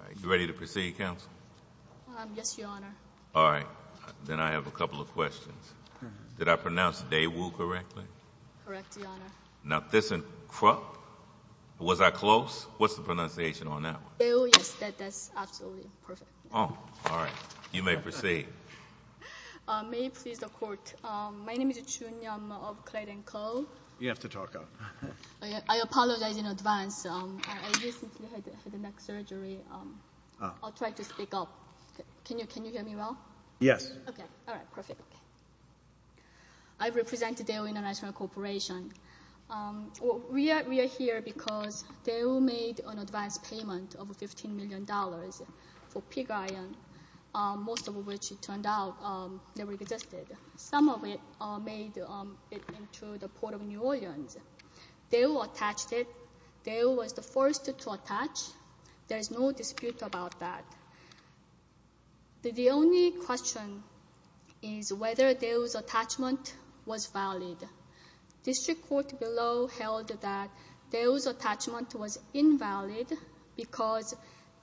All right, you ready to proceed, counsel? Yes, Your Honor. All right, then I have a couple of questions. Did I pronounce Daewoo correctly? Correct, Your Honor. Now, this is Krupp? Was I close? What's the pronunciation on that one? Daewoo, yes, that's absolutely perfect. Oh, all right. You may proceed. May it please the court. My name is Chunyum of Clayton Co. You have to talk up. I apologize in advance. I recently had a neck surgery. I'll try to speak up. Can you hear me well? Yes. OK, all right, perfect. I represent Daewoo International Corporation. We are here because Daewoo made an advance payment of $15 million for Pig Iron, most of which, it turned out, never existed. Some of it made it into the Port of New Orleans. Daewoo attached it. Daewoo was the first to attach. There is no dispute about that. The only question is whether Daewoo's attachment was valid. District Court below held that Daewoo's attachment was invalid because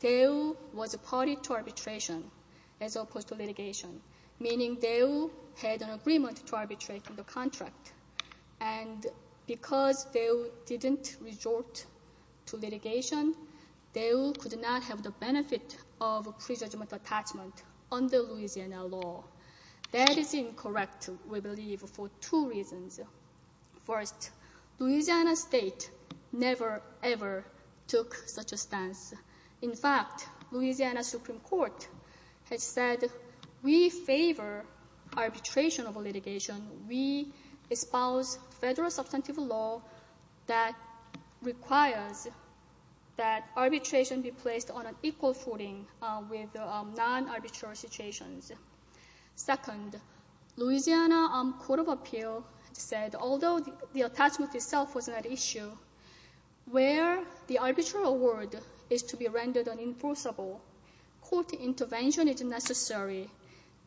Daewoo was a party to arbitration as opposed to litigation, meaning Daewoo had an agreement to arbitrate on the contract. And because Daewoo didn't resort to litigation, Daewoo could not have the benefit of a pre-judgment attachment under Louisiana law. That is incorrect, we believe, for two reasons. First, Louisiana state never, ever took such a stance. In fact, Louisiana Supreme Court has said, we favor arbitration over litigation. We espouse federal substantive law that requires that arbitration be placed on an equal footing with non-arbitrary situations. Second, Louisiana Court of Appeal said, although the attachment itself was not an issue, where the arbitral word is to be rendered unenforceable, court intervention is necessary.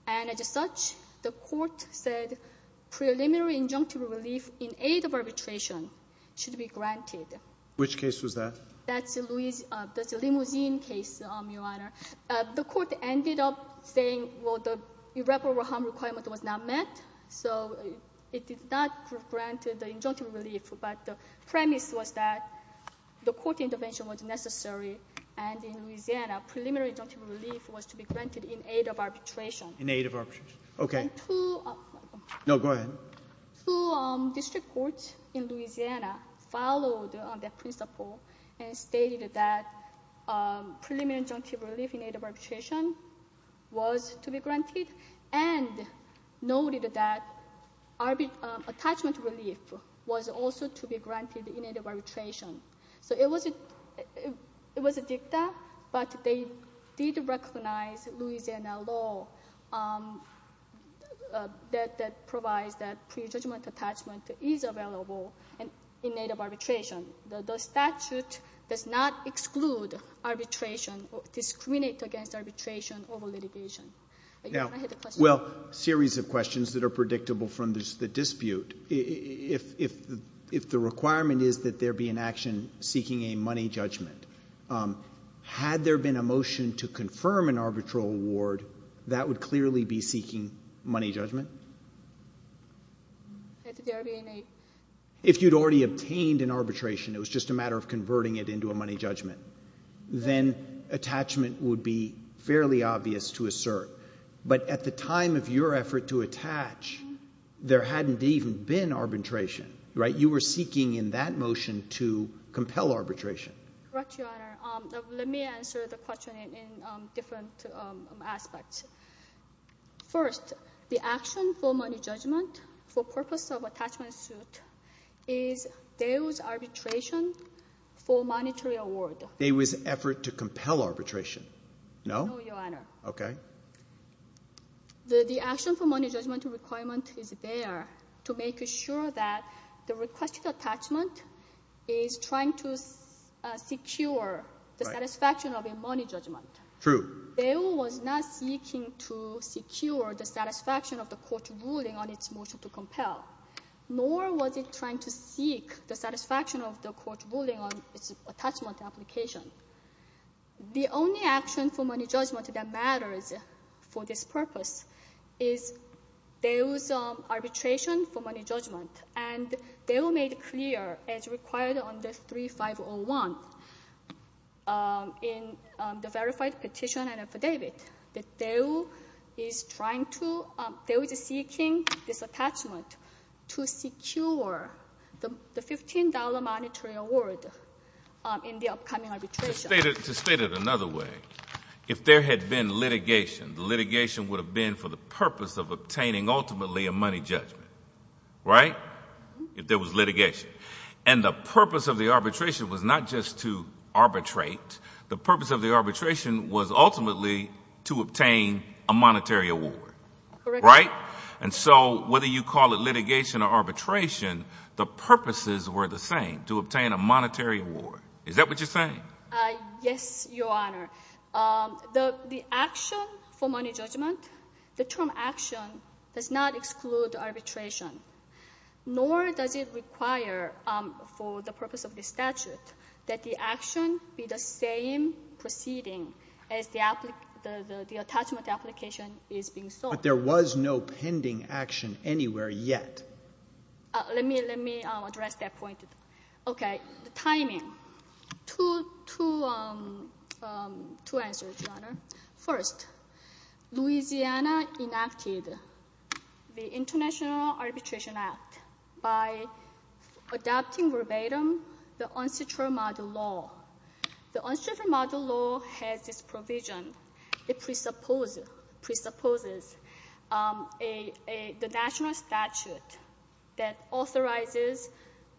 And as such, the court said preliminary injunctive relief in aid of arbitration should be granted. Which case was that? That's the limousine case, Your Honor. The court ended up saying, well, the irreparable harm requirement was not met, so it did not grant the injunctive relief. But the premise was that the court intervention was necessary. And in Louisiana, preliminary injunctive relief was to be granted in aid of arbitration. In aid of arbitration. OK. No, go ahead. Two district courts in Louisiana followed that principle and stated that preliminary injunctive relief in aid of arbitration was to be granted, and noted that attachment relief was also to be granted in aid of arbitration. So it was a dicta, but they did recognize Louisiana law that provides that pre-judgment attachment is available in aid of arbitration. The statute does not exclude arbitration or discriminate against arbitration over litigation. Now, well, a series of questions that are predictable from the dispute. If the requirement is that there be an action seeking a money judgment, had there been a motion to confirm an arbitral award, that would clearly be seeking money judgment? If you'd already obtained an arbitration, it was just a matter of converting it into a money judgment, then attachment would be fairly obvious to assert. But at the time of your effort to attach, there hadn't even been arbitration, right? You were seeking in that motion to compel arbitration. Correct, Your Honor. Let me answer the question in different aspects. First, the action for money judgment for purpose of attachment suit is Daewoo's arbitration for monetary award. Daewoo's effort to compel arbitration, no? No, Your Honor. OK. The action for money judgment requirement is there to make sure that the requested attachment is trying to secure the satisfaction of a money judgment. True. Daewoo was not seeking to secure the satisfaction of the court ruling on its motion to compel, nor was it trying to seek the satisfaction of the court ruling on its attachment application. The only action for money judgment that matters for this purpose is Daewoo's arbitration for money judgment. And Daewoo made clear, as required under 3501 in the verified petition and affidavit, that Daewoo is seeking this attachment to secure the $15 monetary award in the upcoming To state it another way, if there had been litigation, the litigation would have been for the purpose of obtaining ultimately a money judgment, right? If there was litigation. And the purpose of the arbitration was not just to arbitrate. The purpose of the arbitration was ultimately to obtain a monetary award, right? And so whether you call it litigation or arbitration, the purposes were the same, to obtain a monetary award. Is that what you're saying? Yes, Your Honor. The action for money judgment, the term action does not exclude arbitration. Nor does it require, for the purpose of this statute, that the action be the same proceeding as the attachment application is being sought. But there was no pending action anywhere yet. Let me address that point. OK, the timing. Two answers, Your Honor. First, Louisiana enacted the International Arbitration Act by adopting verbatim the unsectoral model law. The unsectoral model law has this provision. It presupposes the national statute that authorizes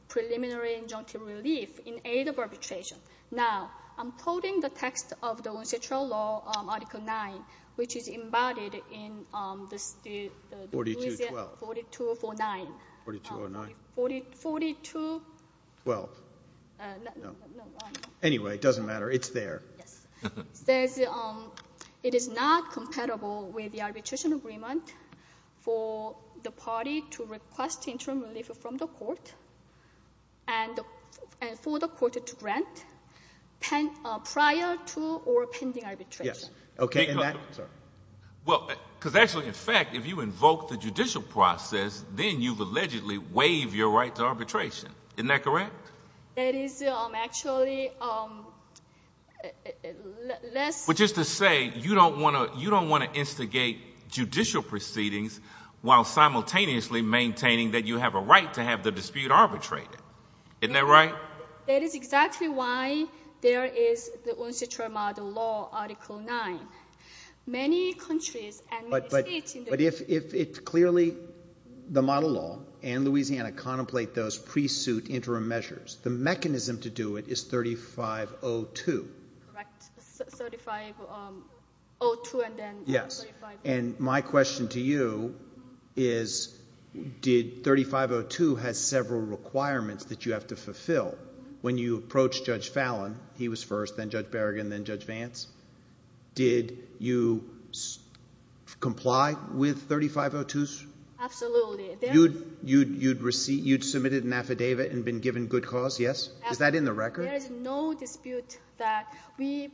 preliminary injunctive relief in aid of arbitration. Now, I'm quoting the text of the unsectoral law, Article 9, which is embodied in the Louisiana 4249. 4209. 4249. Well, anyway, it doesn't matter. It's there. Yes. It says, it is not compatible with the arbitration agreement for the party to request interim relief from the court and for the court to grant prior to or pending arbitration. Yes. OK, and that? Well, because actually, in fact, if you invoke the judicial process, then you've allegedly waived your right to arbitration. Isn't that correct? That is actually less. But just to say, you don't want to instigate judicial proceedings while simultaneously maintaining that you have a right to have the dispute arbitrated. Isn't that right? That is exactly why there is the unsectoral model law, Article Many countries and many states in the world. But if it's clearly the model law and Louisiana contemplate those pre-suit interim measures, the mechanism to do it is 3502. Correct, 3502 and then 3503. Yes. And my question to you is, did 3502 has several requirements that you have to fulfill when you approach Judge Fallon? He was first, then Judge Berrigan, then Judge Vance. Did you comply with 3502s? Absolutely. You'd submitted an affidavit and been given good cause? Yes? Is that in the record? There is no dispute that we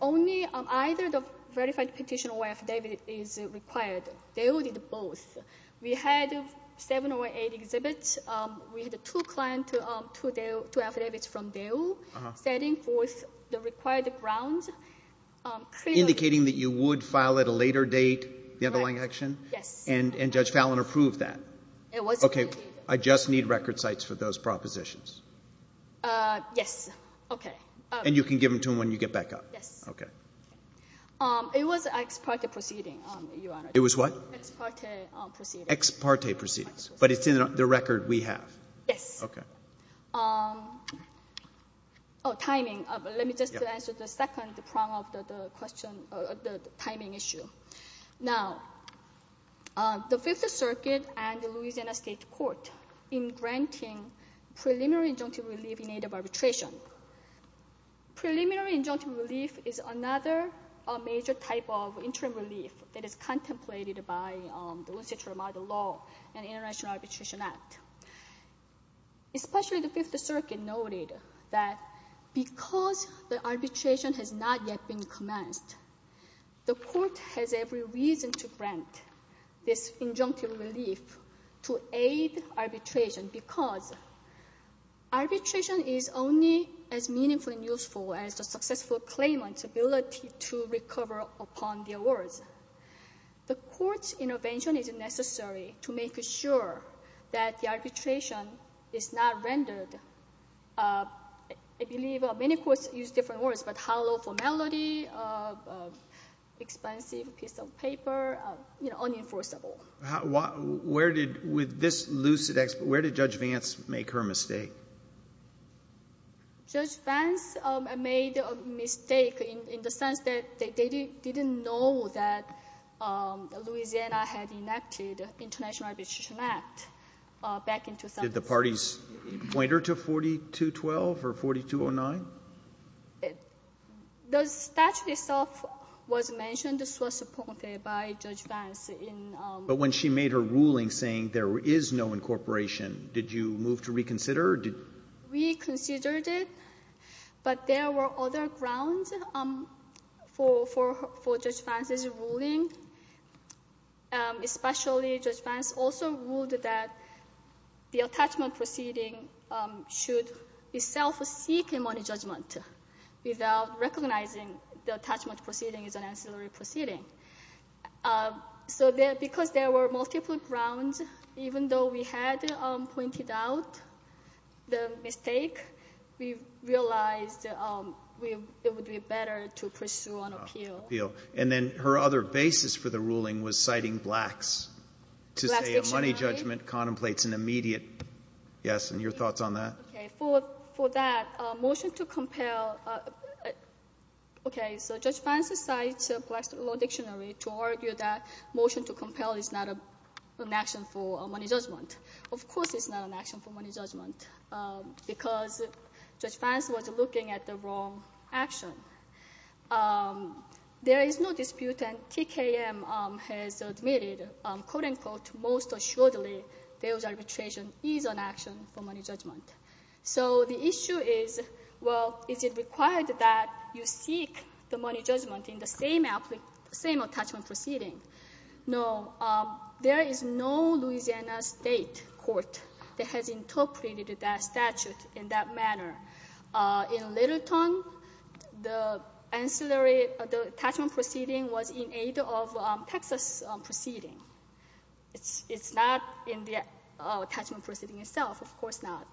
only on either the verified petition or affidavit is required. They all did both. We had seven or eight exhibits. We had two clients, two affidavits from Daewoo, setting forth the required grounds. Indicating that you would file at a later date, the underlying action? Yes. And Judge Fallon approved that? It was approved. I just need record sites for those propositions. Yes. OK. And you can give them to him when you get back up? Yes. OK. It was an ex parte proceeding, Your Honor. It was what? Ex parte proceedings. Ex parte proceedings. But it's in the record we have? Yes. OK. Oh, timing. Let me just answer the second prong of the timing issue. Now, the Fifth Circuit and the Louisiana State Court in granting preliminary injunctive relief in aid of arbitration. Preliminary injunctive relief is another major type of interim relief that is contemplated by the One Century Model Law and International Arbitration Act. Especially the Fifth Circuit noted that because the arbitration has not yet been commenced, the court has every reason to grant this injunctive relief to aid arbitration. Because arbitration is only as meaningful and useful as a successful claimant's ability to recover upon their words. The court's intervention is necessary to make sure that the arbitration is not rendered, I believe many courts use different words, but hollow formality, expensive piece of paper, unenforceable. Where did, with this lucid expert, where did Judge Vance make her mistake? Judge Vance made a mistake in the sense that they didn't know that Louisiana had enacted International Arbitration Act back in 2007. Did the parties point her to 4212 or 4209? The statute itself was mentioned, was supported by Judge Vance in... But when she made her ruling saying there is no incorporation, did you move to reconsider? We considered it, but there were other grounds for Judge Vance's ruling. Especially Judge Vance also ruled that the attachment proceeding should itself seek a money judgment without recognizing the attachment proceeding is an ancillary proceeding. So because there were multiple grounds, even though we had pointed out the mistake, we realized it would be better to pursue an appeal. And then her other basis for the ruling was citing blacks. To say a money judgment contemplates an immediate... Yes, and your thoughts on that? For that, a motion to compel... Okay, so Judge Vance cites a black law dictionary to argue that motion to compel is not an action for a money judgment. Of course it's not an action for money judgment because Judge Vance was looking at the wrong action. There is no dispute and TKM has admitted, quote unquote, most assuredly, there was arbitration is an action for money judgment. So the issue is, well, is it required that you seek the money judgment in the same attachment proceeding? No, there is no Louisiana state court that has interpreted that statute in that manner. In Littleton, the attachment proceeding was in aid of Texas proceeding. It's not in the attachment proceeding itself, of course not.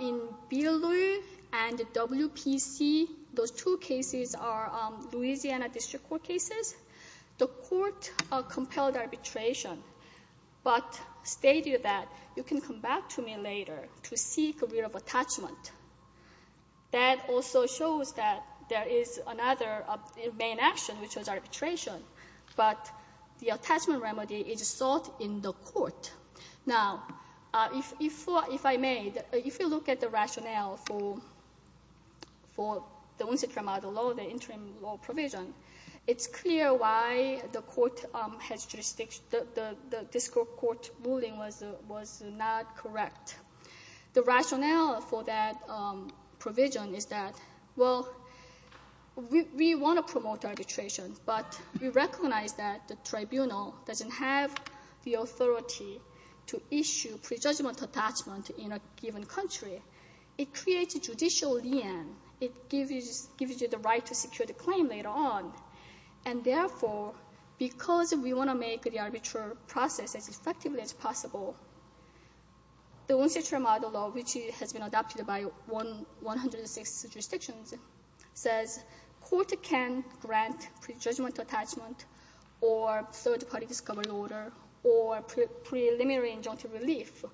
In Beall-Lewis and WPC, those two cases are Louisiana district court cases. The court compelled arbitration, but stated that you can come back to me later to seek a writ of attachment. That also shows that there is another main action, which was arbitration, but the attachment remedy is sought in the court. Now, if I may, if you look at the rationale for the unsecured model law, the interim law provision, it's clear why the court has jurisdiction, the district court ruling was not correct. The rationale for that provision is that, well, we want to promote arbitration, but we recognize that the tribunal doesn't have the authority to issue prejudgment attachment in a given country. It creates a judicial lien. It gives you the right to secure the claim later on, and therefore, because we want to make the arbitral process as effectively as possible, the unsecured model law, which has been adopted by 106 jurisdictions, says court can grant prejudgment attachment or third-party discovery order or preliminary injunctive relief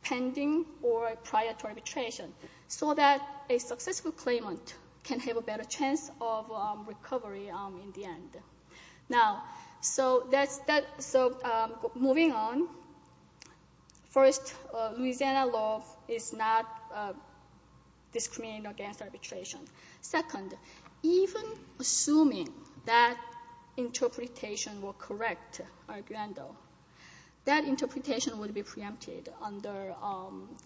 pending or prior to arbitration so that a successful claimant can have a better chance of recovery in the end. Now, so moving on, first, Louisiana law is not discriminating against arbitration. Second, even assuming that interpretation were correct, Arguendo, that interpretation would be preempted under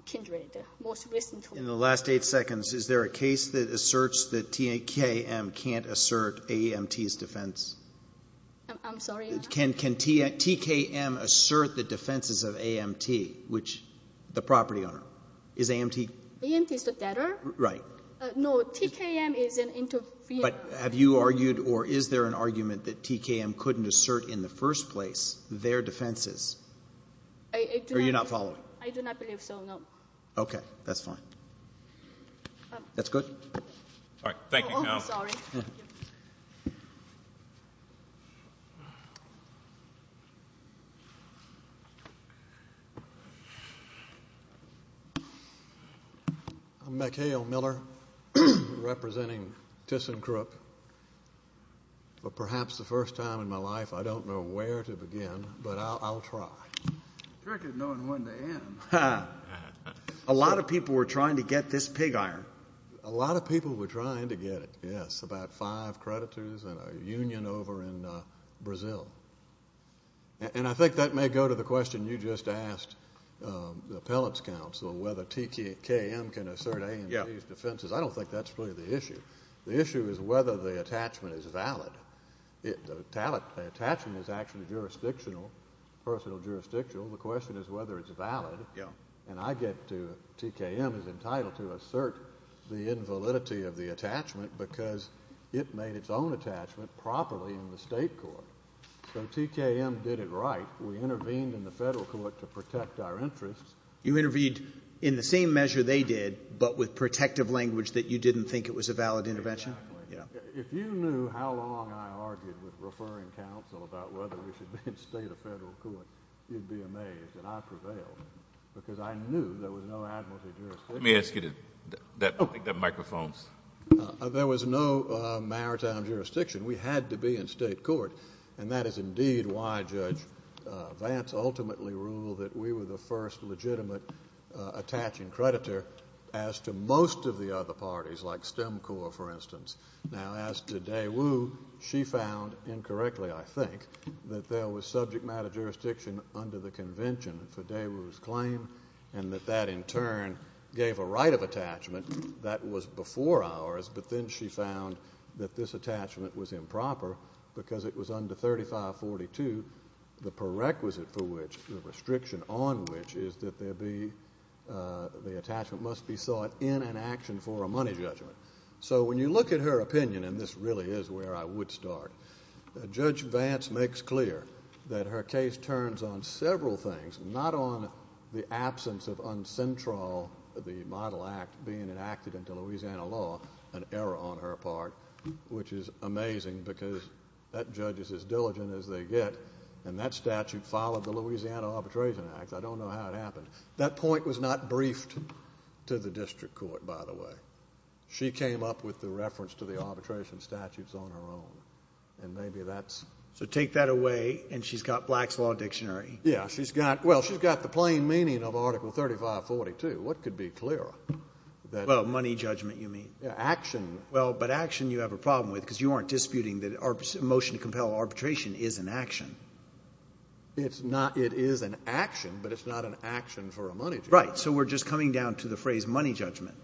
Kindred, most recently. In the last eight seconds, is there a case that asserts that TKM can't assert AMT's defense? I'm sorry? Can TKM assert the defenses of AMT, which the property owner? Is AMT? AMT is the debtor? Right. No, TKM is an interfere. But have you argued, or is there an argument that TKM couldn't assert in the first place their defenses? I do not. Or you're not following? I do not believe so, no. Okay, that's fine. That's good? All right, thank you. Oh, I'm sorry. Yeah. I'm McHale Miller, representing ThyssenKrupp. But perhaps the first time in my life, I don't know where to begin, but I'll try. Tricky knowing when to end. A lot of people were trying to get this pig iron. A lot of people were trying to get it, yes. It's about five creditors and a union over in Brazil. And I think that may go to the question you just asked the appellate's counsel, whether TKM can assert AMT's defenses. I don't think that's really the issue. The issue is whether the attachment is valid. The attachment is actually jurisdictional, personal jurisdictional. The question is whether it's valid. And I get to, TKM is entitled to assert the invalidity of the attachment because it made its own attachment properly in the state court. So TKM did it right. We intervened in the federal court to protect our interests. You intervened in the same measure they did, but with protective language that you didn't think it was a valid intervention? Exactly. If you knew how long I argued with referring counsel about whether we should be in state or federal court, you'd be amazed that I prevailed because I knew there was no admiralty jurisdiction. Let me ask you to, I think that microphone's. There was no maritime jurisdiction. We had to be in state court. And that is indeed why Judge Vance ultimately ruled that we were the first legitimate attaching creditor as to most of the other parties, like STEM Corps, for instance. Now, as to Daewoo, she found, incorrectly, I think, that there was subject matter jurisdiction under the convention for Daewoo's claim and that that in turn gave a right of attachment that was before ours, but then she found that this attachment was improper because it was under 3542, the prerequisite for which, the restriction on which, is that the attachment must be sought in an action for a money judgment. So when you look at her opinion, and this really is where I would start, Judge Vance makes clear that her case turns on several things, not on the absence of uncentral, the Model Act being enacted into Louisiana law, an error on her part, which is amazing because that judge is as diligent as they get, and that statute followed the Louisiana Arbitration Act. I don't know how it happened. That point was not briefed to the district court, by the way. She came up with the reference to the arbitration statutes on her own, and maybe that's... So take that away, and she's got Black's Law Dictionary. Yeah, she's got, well, she's got the plain meaning of Article 3542. What could be clearer? Well, money judgment, you mean? Yeah, action. Well, but action you have a problem with because you aren't disputing that a motion to compel arbitration is an action. It's not. It is an action, but it's not an action for a money judgment. Right, so we're just coming down to the phrase money judgment.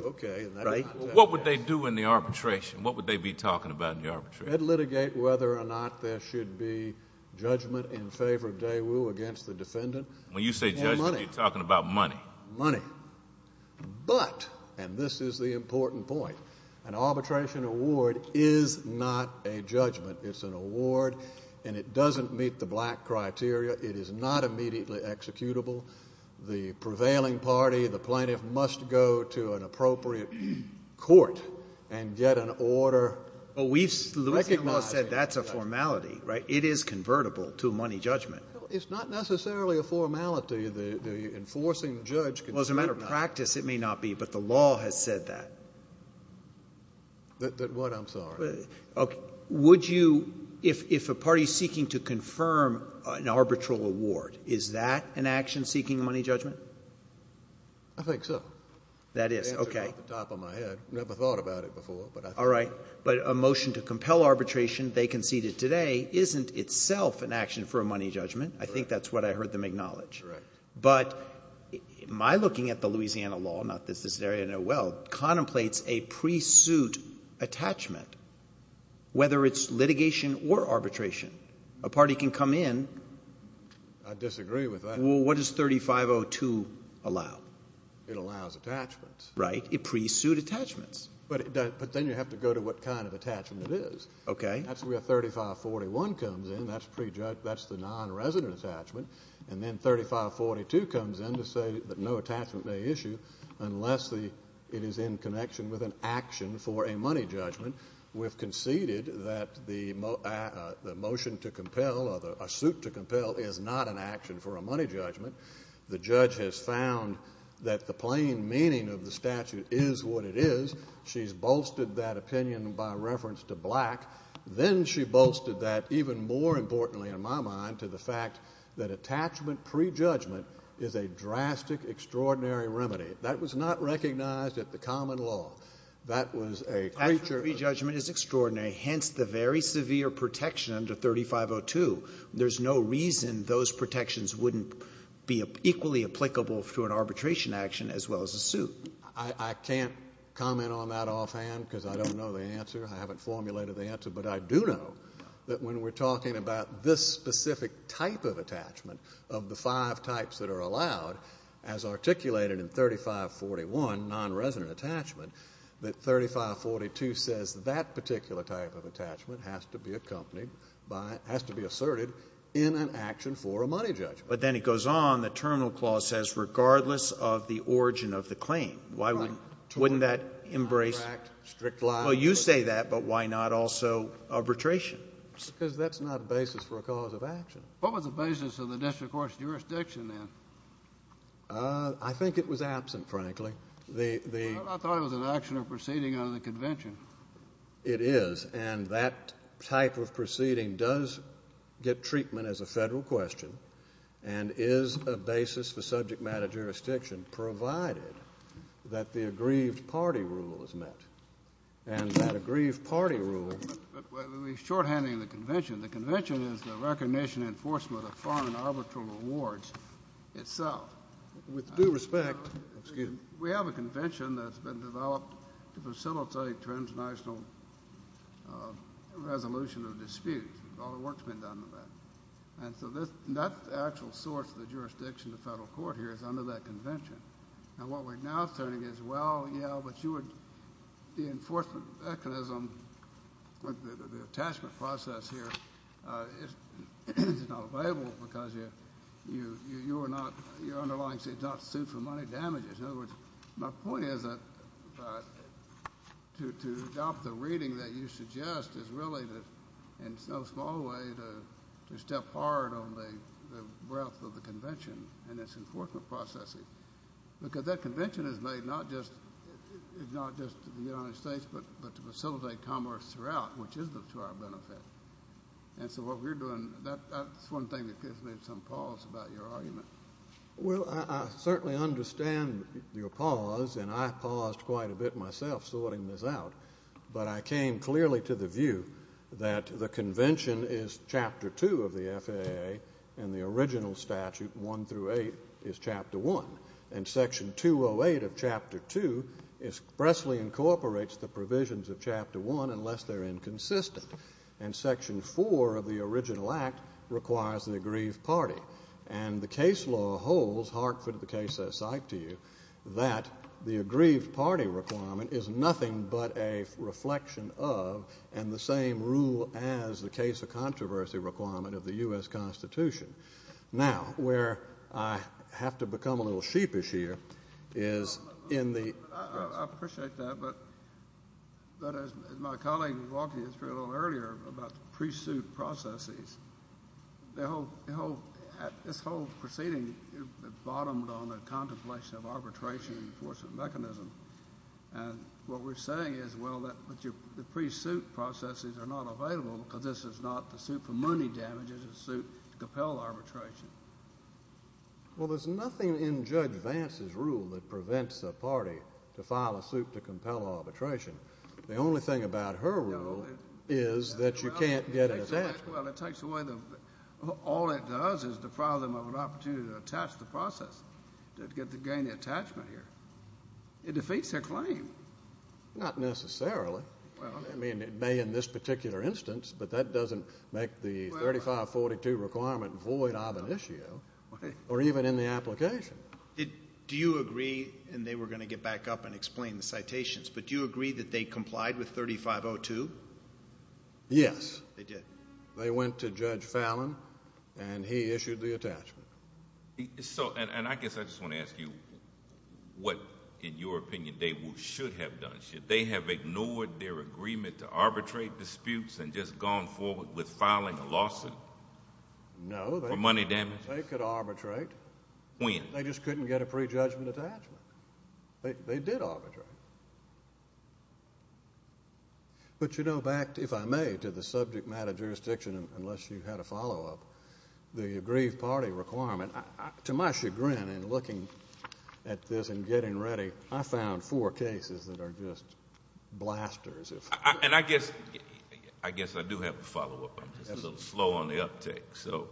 Okay. Right? What would they do in the arbitration? What would they be talking about in the arbitration? They'd litigate whether or not there should be judgment in favor of Daewoo against the defendant. When you say judgment, you're talking about money. Money. But, and this is the important point, an arbitration award is not a judgment. It's an award, and it doesn't meet the Black criteria. It is not immediately executable. The prevailing party, the plaintiff, must go to an appropriate court and get an order. But we've recognized that that's a formality, right? It is convertible to money judgment. It's not necessarily a formality. The enforcing judge can say it's not. Well, as a matter of practice, it may not be, but the law has said that. That what? I'm sorry. Okay, would you, if a party's seeking to confirm an arbitral award, is that an action seeking money judgment? I think so. That is, okay. Answered off the top of my head. Never thought about it before, but I think so. All right, but a motion to compel arbitration, they conceded today, isn't itself an action for a money judgment. I think that's what I heard them acknowledge. But my looking at the Louisiana law, not that this area I know well, contemplates a pre-suit attachment, whether it's litigation or arbitration. A party can come in. I disagree with that. Well, what does 3502 allow? It allows attachments. Right, it pre-suit attachments. But then you have to go to what kind of attachment it is. Okay. That's where 3541 comes in. That's the non-resident attachment. And then 3542 comes in to say that no attachment may issue unless it is in connection with an action for a money judgment. We've conceded that the motion to compel, or a suit to compel, is not an action for a money judgment. The judge has found that the plain meaning of the statute is what it is. She's bolstered that opinion by reference to black. Then she bolstered that, even more importantly in my mind, to the fact that attachment pre-judgment is a drastic, extraordinary remedy. That was not recognized at the common law. That was a creature of the- Attachment pre-judgment is extraordinary, hence the very severe protection under 3502. There's no reason those protections wouldn't be equally applicable for an arbitration action as well as a suit. I can't comment on that offhand because I don't know the answer. I haven't formulated the answer, but I do know that when we're talking about this specific type of attachment of the five types that are allowed, as articulated in 3541, non-resident attachment, that 3542 says that particular type of attachment has to be accompanied by, has to be asserted in an action for a money judgment. But then it goes on, the terminal clause says, regardless of the origin of the claim. Why wouldn't, wouldn't that embrace- But why not also arbitration? Because that's not a basis for a cause of action. What was the basis of the district court's jurisdiction then? I think it was absent, frankly. I thought it was an action or proceeding under the convention. It is, and that type of proceeding does get treatment as a federal question and is a basis for subject matter jurisdiction provided that the aggrieved party rule is met and that aggrieved party rule- We're shorthanding the convention. The convention is the recognition, enforcement of foreign arbitral rewards itself. With due respect, excuse me. We have a convention that's been developed to facilitate transnational resolution of disputes. All the work's been done on that. And so that's the actual source of the jurisdiction of the federal court here is under that convention. And what we're now saying is, well, yeah, but you would, the enforcement mechanism, the attachment process here is not viable because you're not, your underlying state does not suit for money damages. In other words, my point is that to adopt the reading that you suggest is really in no small way to step hard on the breadth of the convention and its enforcement processing. Because that convention is made not just, it's not just the United States, but to facilitate commerce throughout, which is to our benefit. And so what we're doing, that's one thing that gives me some pause about your argument. Well, I certainly understand your pause and I paused quite a bit myself sorting this out, but I came clearly to the view that the convention is chapter two of the FAA and the original statute, one through eight, is chapter one. And section 208 of chapter two expressly incorporates the provisions of chapter one unless they're inconsistent. And section four of the original act requires an aggrieved party. And the case law holds, Harkford, the case I cite to you, that the aggrieved party requirement is nothing but a reflection of, and the same rule as the case of controversy requirement of the U.S. Constitution. Now, where I have to become a little sheepish here is in the- I appreciate that, but as my colleague walked you through a little earlier about the pre-suit processes, this whole proceeding bottomed on a contemplation of arbitration enforcement mechanism. And what we're saying is, well, the pre-suit processes are not available because this is not the suit for money damages, it's the suit to compel arbitration. Well, there's nothing in Judge Vance's rule that prevents a party to file a suit to compel arbitration. The only thing about her rule is that you can't get it attached. Well, it takes away the- All it does is deprive them of an opportunity to attach the process to gain the attachment here. It defeats their claim. Not necessarily. I mean, it may in this particular instance, but that doesn't make the 3542 requirement void of an issue, or even in the application. Do you agree, and they were going to get back up and explain the citations, but do you agree that they complied with 3502? Yes. They did. They went to Judge Fallon, and he issued the attachment. And I guess I just want to ask you what, in your opinion, they should have done. Should they have ignored their agreement to arbitrate disputes and just gone forward with filing a lawsuit? No. For money damages? They could arbitrate. When? They just couldn't get a pre-judgment attachment. They did arbitrate. But you know, back, if I may, to the subject matter jurisdiction, unless you had a follow-up, the aggrieved party requirement, to my chagrin in looking at this and getting ready, I found four cases that are just blasters. And I guess, I guess I do have a follow-up. I'm just a little slow on the uptake, so.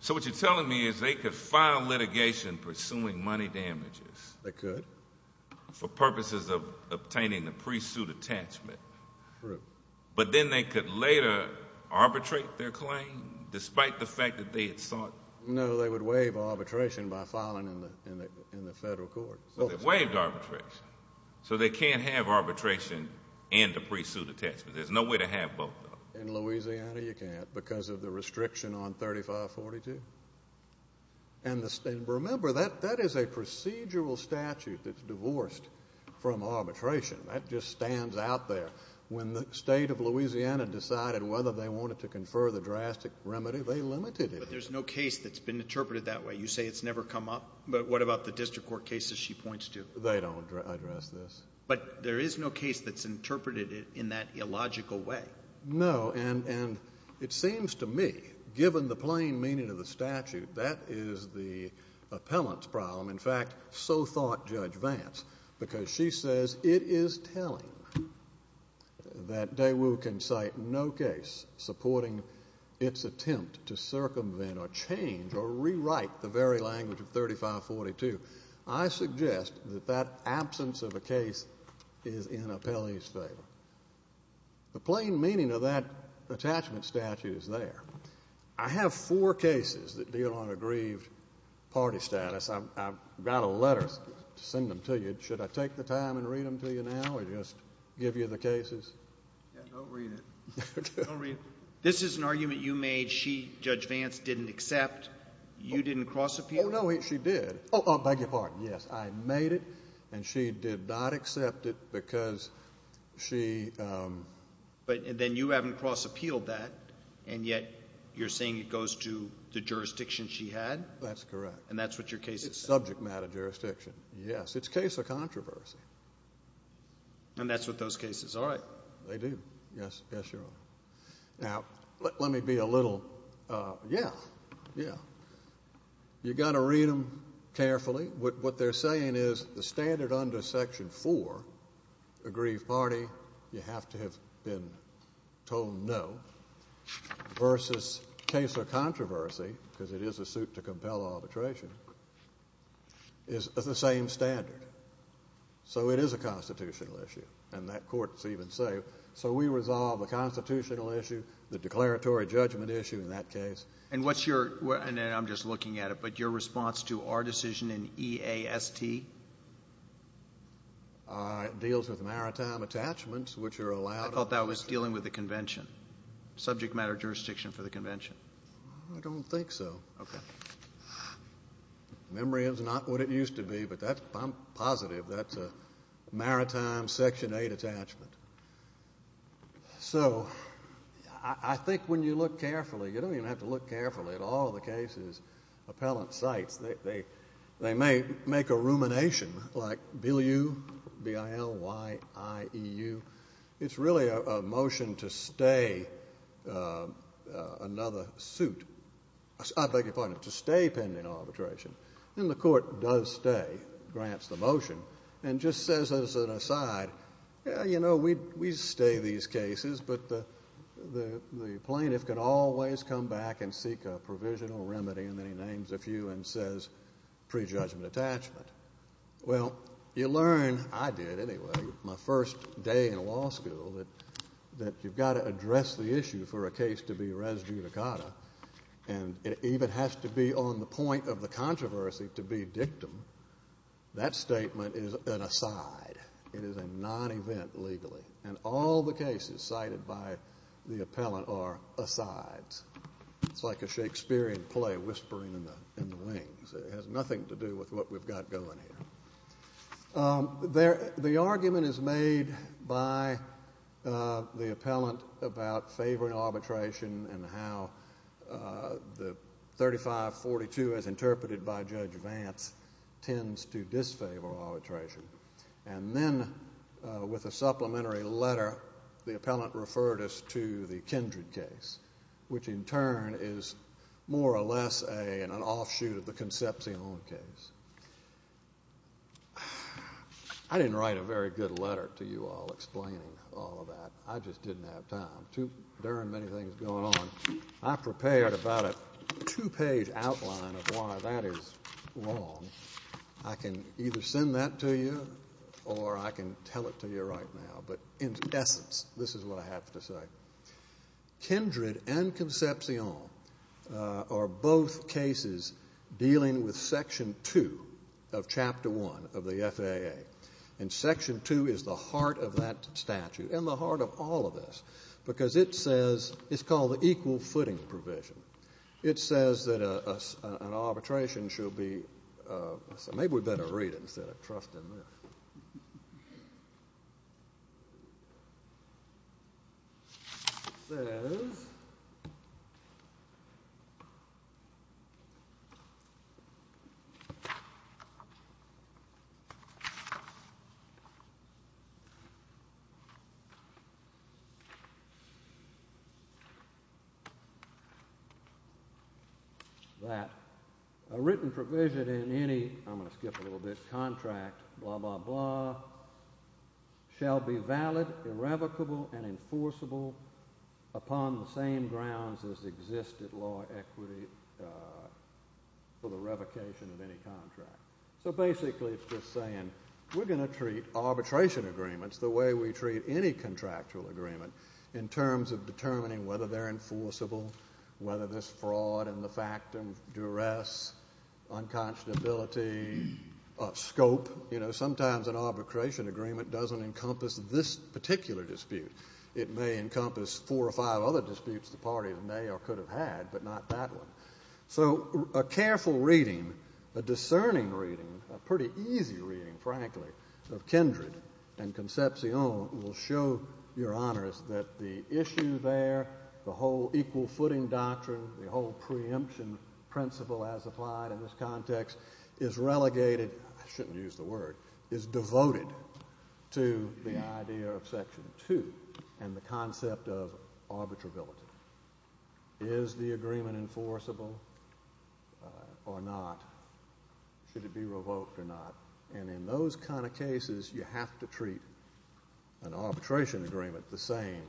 So what you're telling me is they could file litigation pursuing money damages. They could. For purposes of obtaining the pre-suit attachment. True. But then they could later arbitrate their claim, despite the fact that they had sought. No, they would waive arbitration by filing in the federal court. But they waived arbitration. So they can't have arbitration and a pre-suit attachment. There's no way to have both of them. In Louisiana, you can't, because of the restriction on 3542. And remember, that is a procedural statute that's divorced from arbitration. That just stands out there. When the state of Louisiana decided whether they wanted to confer the drastic remedy, they limited it. But there's no case that's been interpreted that way. You say it's never come up. But what about the district court cases she points to? They don't address this. But there is no case that's interpreted in that illogical way. No, and it seems to me, given the plain meaning of the statute, that is the appellant's problem. In fact, so thought Judge Vance, because she says it is telling that Daewoo can cite no case supporting its attempt to circumvent or change or rewrite the very language of 3542. I suggest that that absence of a case is in appellee's favor. The plain meaning of that attachment statute is there. I have four cases that deal on aggrieved party status. I've got a letter to send them to you. Should I take the time and read them to you now or just give you the cases? Yeah, don't read it. Don't read it. This is an argument you made that she, Judge Vance, didn't accept. You didn't cross-appeal it? Oh, no, she did. Oh, oh, beg your pardon, yes. I made it and she did not accept it because she... But then you haven't cross-appealed that and yet you're saying it goes to the jurisdiction she had? That's correct. And that's what your case is? It's subject matter jurisdiction, yes. It's case of controversy. And that's with those cases, all right. They do, yes, yes, Your Honor. Now, let me be a little... Yeah, yeah. You got to read them carefully. What they're saying is the standard under section four, aggrieved party, you have to have been told no, versus case of controversy, because it is a suit to compel arbitration, is the same standard. So it is a constitutional issue and that court's even safe. So we resolve a constitutional issue, the declaratory judgment issue in that case. And what's your, and I'm just looking at it, but your response to our decision in EAST? It deals with maritime attachments, which are allowed. I thought that was dealing with the convention, subject matter jurisdiction for the convention. I don't think so. Okay. Memory is not what it used to be, but I'm positive that's a maritime section eight attachment. So I think when you look carefully, you don't even have to look carefully at all the cases, appellant sites, they may make a rumination like B-I-L-Y-I-E-U. It's really a motion to stay another suit. I beg your pardon, to stay pending arbitration. And the court does stay, grants the motion, and just says as an aside, yeah, you know, we stay these cases, but the plaintiff could always come back and seek a provisional remedy, and then he names a few and says prejudgment attachment. Well, you learn, I did anyway, my first day in law school, that you've got to address the issue for a case to be res judicata. And it even has to be on the point of the controversy to be dictum. That statement is an aside. It is a non-event legally. And all the cases cited by the appellant are asides. It's like a Shakespearean play, whispering in the wings. It has nothing to do with what we've got going here. The argument is made by the appellant about favoring arbitration and how the 3542, as interpreted by Judge Vance, tends to disfavor arbitration. And then with a supplementary letter, the appellant referred us to the Kindred case, which in turn is more or less an offshoot of the Concepcion case. I didn't write a very good letter to you all explaining all of that. I just didn't have time. There are many things going on. I prepared about a two-page outline of why that is wrong. I can either send that to you or I can tell it to you right now. But in essence, this is what I have to say. Kindred and Concepcion are both cases dealing with section two of chapter one of the FAA. And section two is the heart of that statute and the heart of all of this, because it says, it's called the equal footing provision. It says that an arbitration should be, so maybe we'd better read it instead of trusting this. It says... That a written provision in any, I'm gonna skip a little bit, contract, blah, blah, blah, shall be valid, irrevocable, and enforceable upon the same grounds as existed law equity for the revocation of any contract. So basically it's just saying, we're gonna treat arbitration agreements the way we treat any contractual agreement in terms of determining whether they're enforceable, whether this fraud and the fact and duress, unconscionability, scope. Sometimes an arbitration agreement doesn't encompass this particular dispute. It may encompass four or five other disputes the parties may or could have had, but not that one. So a careful reading, a discerning reading, a pretty easy reading, frankly, of Kindred and Concepcion will show your honors that the issue there, the whole equal footing doctrine, the whole preemption principle as applied in this context is relegated, I shouldn't use the word, is devoted to the idea of section two and the concept of arbitrability. Is the agreement enforceable or not? Should it be revoked or not? And in those kind of cases, you have to treat an arbitration agreement the same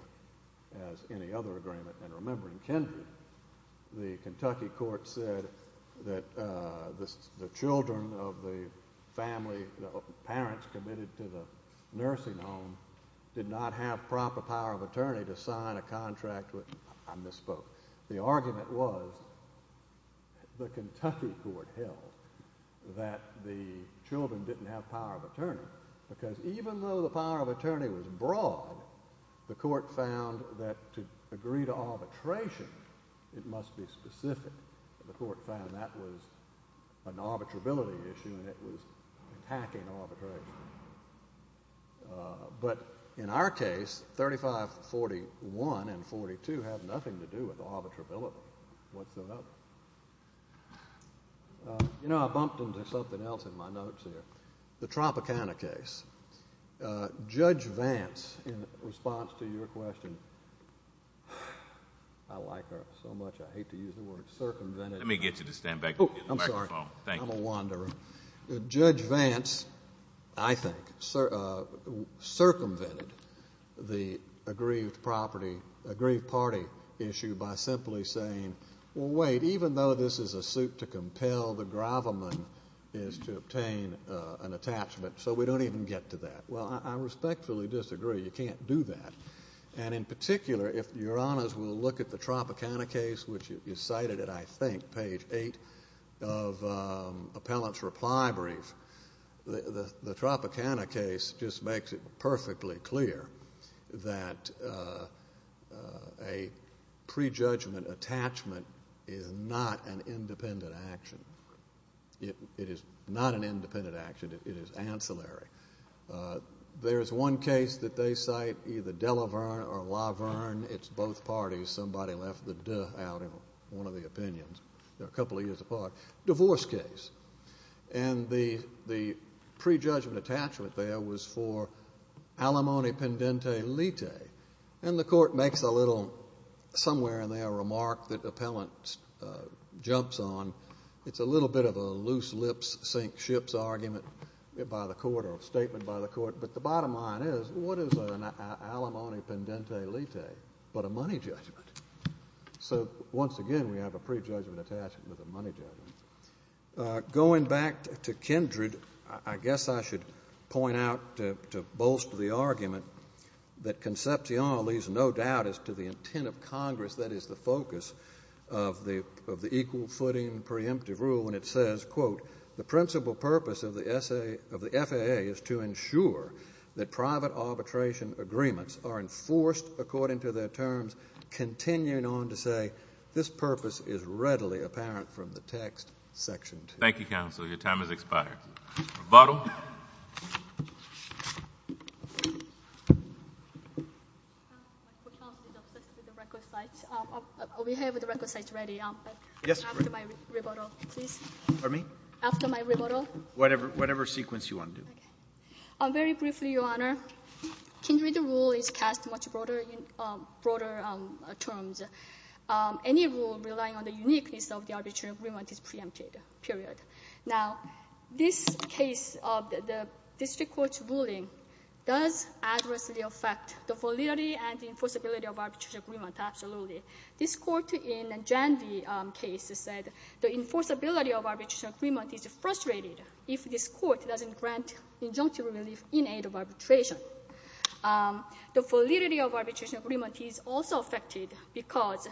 as any other agreement. And remembering Kindred, the Kentucky court said that the children of the family, the parents committed to the nursing home did not have proper power of attorney to sign a contract with, I misspoke. The argument was, the Kentucky court held that the children didn't have power of attorney because even though the power of attorney was broad, the court found that to agree to arbitration, it must be specific. The court found that was an arbitrability issue and it was attacking arbitration. But in our case, 3541 and 42 had nothing to do with arbitrability whatsoever. You know, I bumped into something else in my notes here. The Tropicana case. Judge Vance, in response to your question, I like her so much, I hate to use the word, circumvented the- Let me get you to stand back. Oh, I'm sorry, I'm a wanderer. Judge Vance, I think, circumvented the aggrieved property, aggrieved party issue by simply saying, well, wait, even though this is a suit to compel, the gravamen is to obtain an attachment, so we don't even get to that. Well, I respectfully disagree, you can't do that. And in particular, if your honors will look at the Tropicana case, which you cited it, I think, page eight of Appellant's reply brief, the Tropicana case just makes it perfectly clear that a prejudgment attachment is not an independent action. It is not an independent action, it is ancillary. There is one case that they cite, either Delaverne or Laverne, it's both parties, somebody left the de out in one of the opinions, they're a couple of years apart, divorce case. And the prejudgment attachment there was for alimony pendente lite. And the court makes a little, somewhere in their remark that Appellant jumps on, it's a little bit of a loose lips sink ships argument by the court or a statement by the court, but the bottom line is, what is an alimony pendente lite but a money judgment? So once again, we have a prejudgment attachment with a money judgment. Going back to Kindred, I guess I should point out to bolster the argument that Concepcion leaves no doubt as to the intent of Congress that is the focus of the equal footing preemptive rule when it says, quote, the principal purpose of the FAA is to ensure that private arbitration agreements are enforced according to their terms, continuing on to say, this purpose is readily apparent from the text, section two. Thank you, counsel. Your time has expired. Rebuttal. My court counsel is obsessed with the record sites. We have the record sites ready after my rebuttal, please. Pardon me? After my rebuttal. Whatever sequence you want to do. Very briefly, your honor, Kindred rule is cast much broader terms. Any rule relying on the uniqueness of the arbitration agreement is preempted, period. Now, this case of the district court's ruling does adversely affect the validity and the enforceability of arbitration agreement, absolutely. This court in Jandy case said the enforceability of arbitration agreement is frustrated if this court doesn't grant injunctive relief in aid of arbitration. The validity of arbitration agreement is also affected because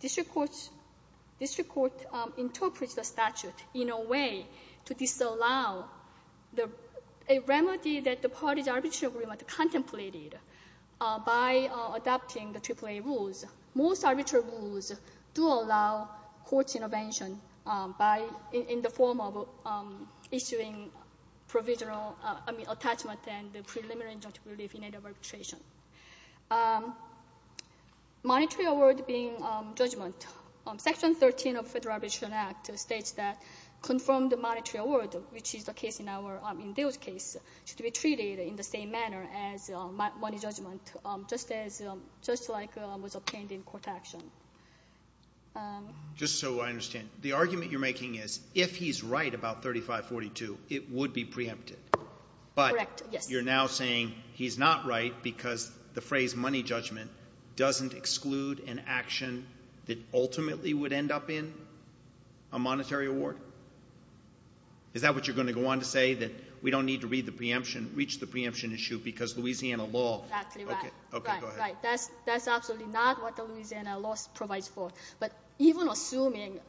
district court interprets the statute in a way to disallow a remedy that the parties' arbitration agreement contemplated by adopting the AAA rules. Most arbitration rules do allow court intervention by, in the form of issuing provisional, I mean, attachment and preliminary injunctive relief in aid of arbitration. Monetary award being judgment. Section 13 of Federal Arbitration Act states that confirmed monetary award, which is the case in our, in Dale's case, should be treated in the same manner as money judgment, just as, just like was obtained in court action. Just so I understand, the argument you're making is if he's right about 3542, it would be preempted. Correct, yes. But you're now saying he's not right because the phrase money judgment doesn't exclude an action that ultimately would end up in a monetary award? Is that what you're going to go on to say, that we don't need to read the preemption, reach the preemption issue, because Louisiana law. Exactly right. Okay, go ahead. That's absolutely not what the Louisiana law provides for. But even assuming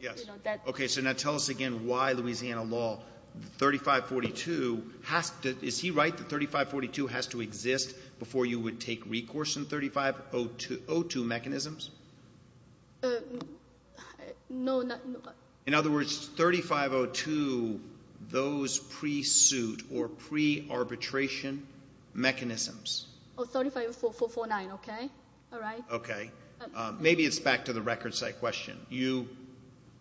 that. Okay, so now tell us again why Louisiana law, 3542, is he right that 3542 has to exist before you would take recourse in 3502 mechanisms? No, no. In other words, 3502, those pre-suit or pre-arbitration mechanisms. Oh, 35449, okay, all right. Okay, maybe it's back to the record site question. You...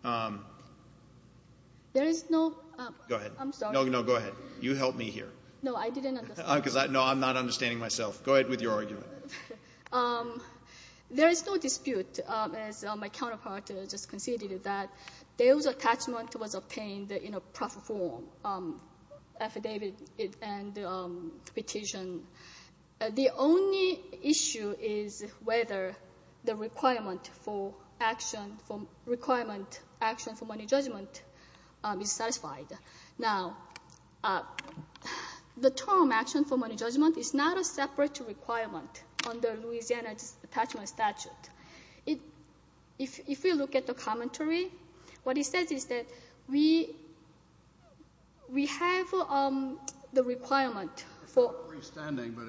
There is no... Go ahead. I'm sorry. No, no, go ahead. You help me here. No, I didn't understand. No, I'm not understanding myself. Go ahead with your argument. There is no dispute, as my counterpart just conceded, that Dale's attachment was obtained in a proper form, affidavit and petition. The only issue is whether the requirement for action, requirement action for money judgment is satisfied. Now, the term action for money judgment is not a separate requirement under Louisiana Attachment Statute. If you look at the commentary, what he says is that we have the requirement for... It's not freestanding, but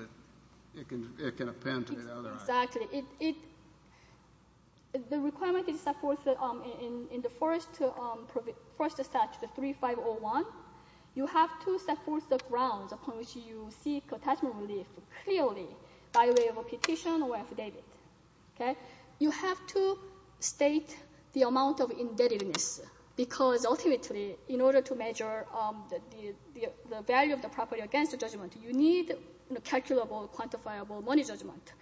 it can append to the other item. Exactly. The requirement is supported in the first statute, the 3501. You have to set forth the grounds upon which you seek attachment relief clearly by way of a petition or affidavit. Okay? You have to state the amount of indebtedness, because ultimately, in order to measure the value of the property against the judgment, you need calculable, quantifiable money judgment.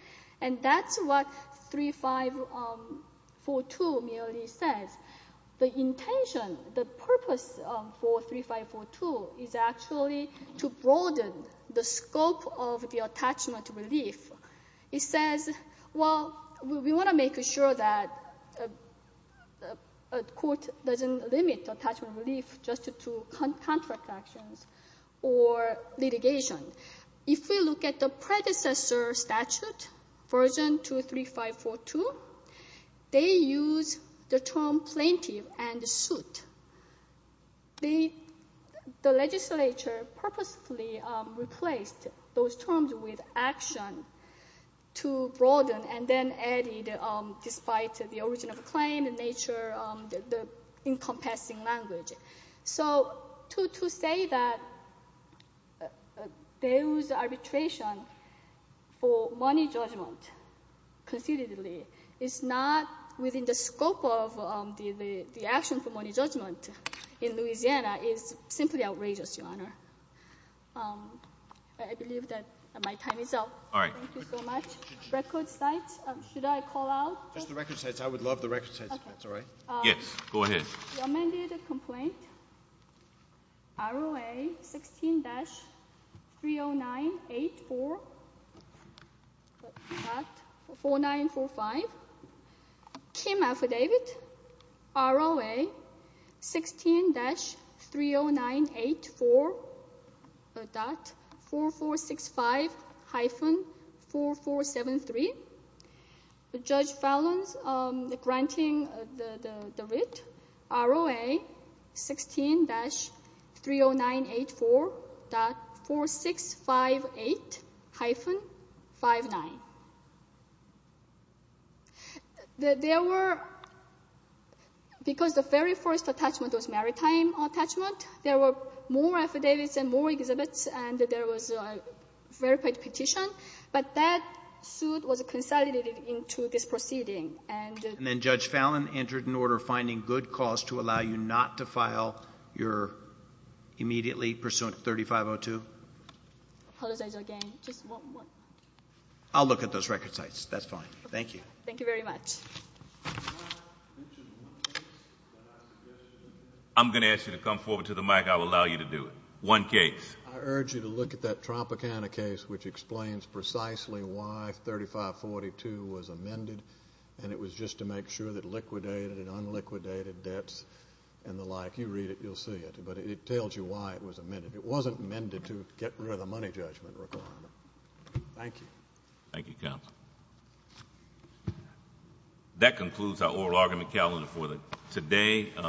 And that's what 3542 merely says. The intention, the purpose of 43542 is actually to broaden the scope of the attachment relief. It says, well, we want to make sure that a court doesn't limit attachment relief just to contract actions or litigation. If we look at the predecessor statute, version 23542, they use the term plaintiff and suit. The legislature purposefully replaced those terms with action to broaden, and then added, despite the origin of the claim, in nature, the encompassing language. So, to say that there was arbitration for money judgment, concededly, is not within the scope of the action for money judgment in Louisiana is simply outrageous, Your Honor. I believe that my time is up. All right. Thank you so much. Record sites, should I call out? Just the record sites. I would love the record sites, if that's all right. Yes, go ahead. The amended complaint, ROA 16-30984.4945. Kim affidavit, ROA 16-30984.4465-4473. Judge Fallon's granting the writ, ROA 16-30984.4658-59. Because the very first attachment was maritime attachment, there were more affidavits and more exhibits, and there was a verified petition, but that suit was consolidated into this proceeding. And then Judge Fallon entered an order for finding good cause to allow you not to file your immediately pursuant 3502. Apologize again. Just one more. I'll look at those record sites. That's fine. Thank you. Thank you very much. I'm gonna ask you to come forward to the mic. I will allow you to do it. One case. I urge you to look at that Tropicana case, which explains precisely why 3542 was amended, and it was just to make sure that liquidated and unliquidated debts and the like, you read it, you'll see it, but it tells you why it was amended. It wasn't amended to get rid of the money judgment requirement. Thank you. Thank you, counsel. That concludes our oral argument calendar for today.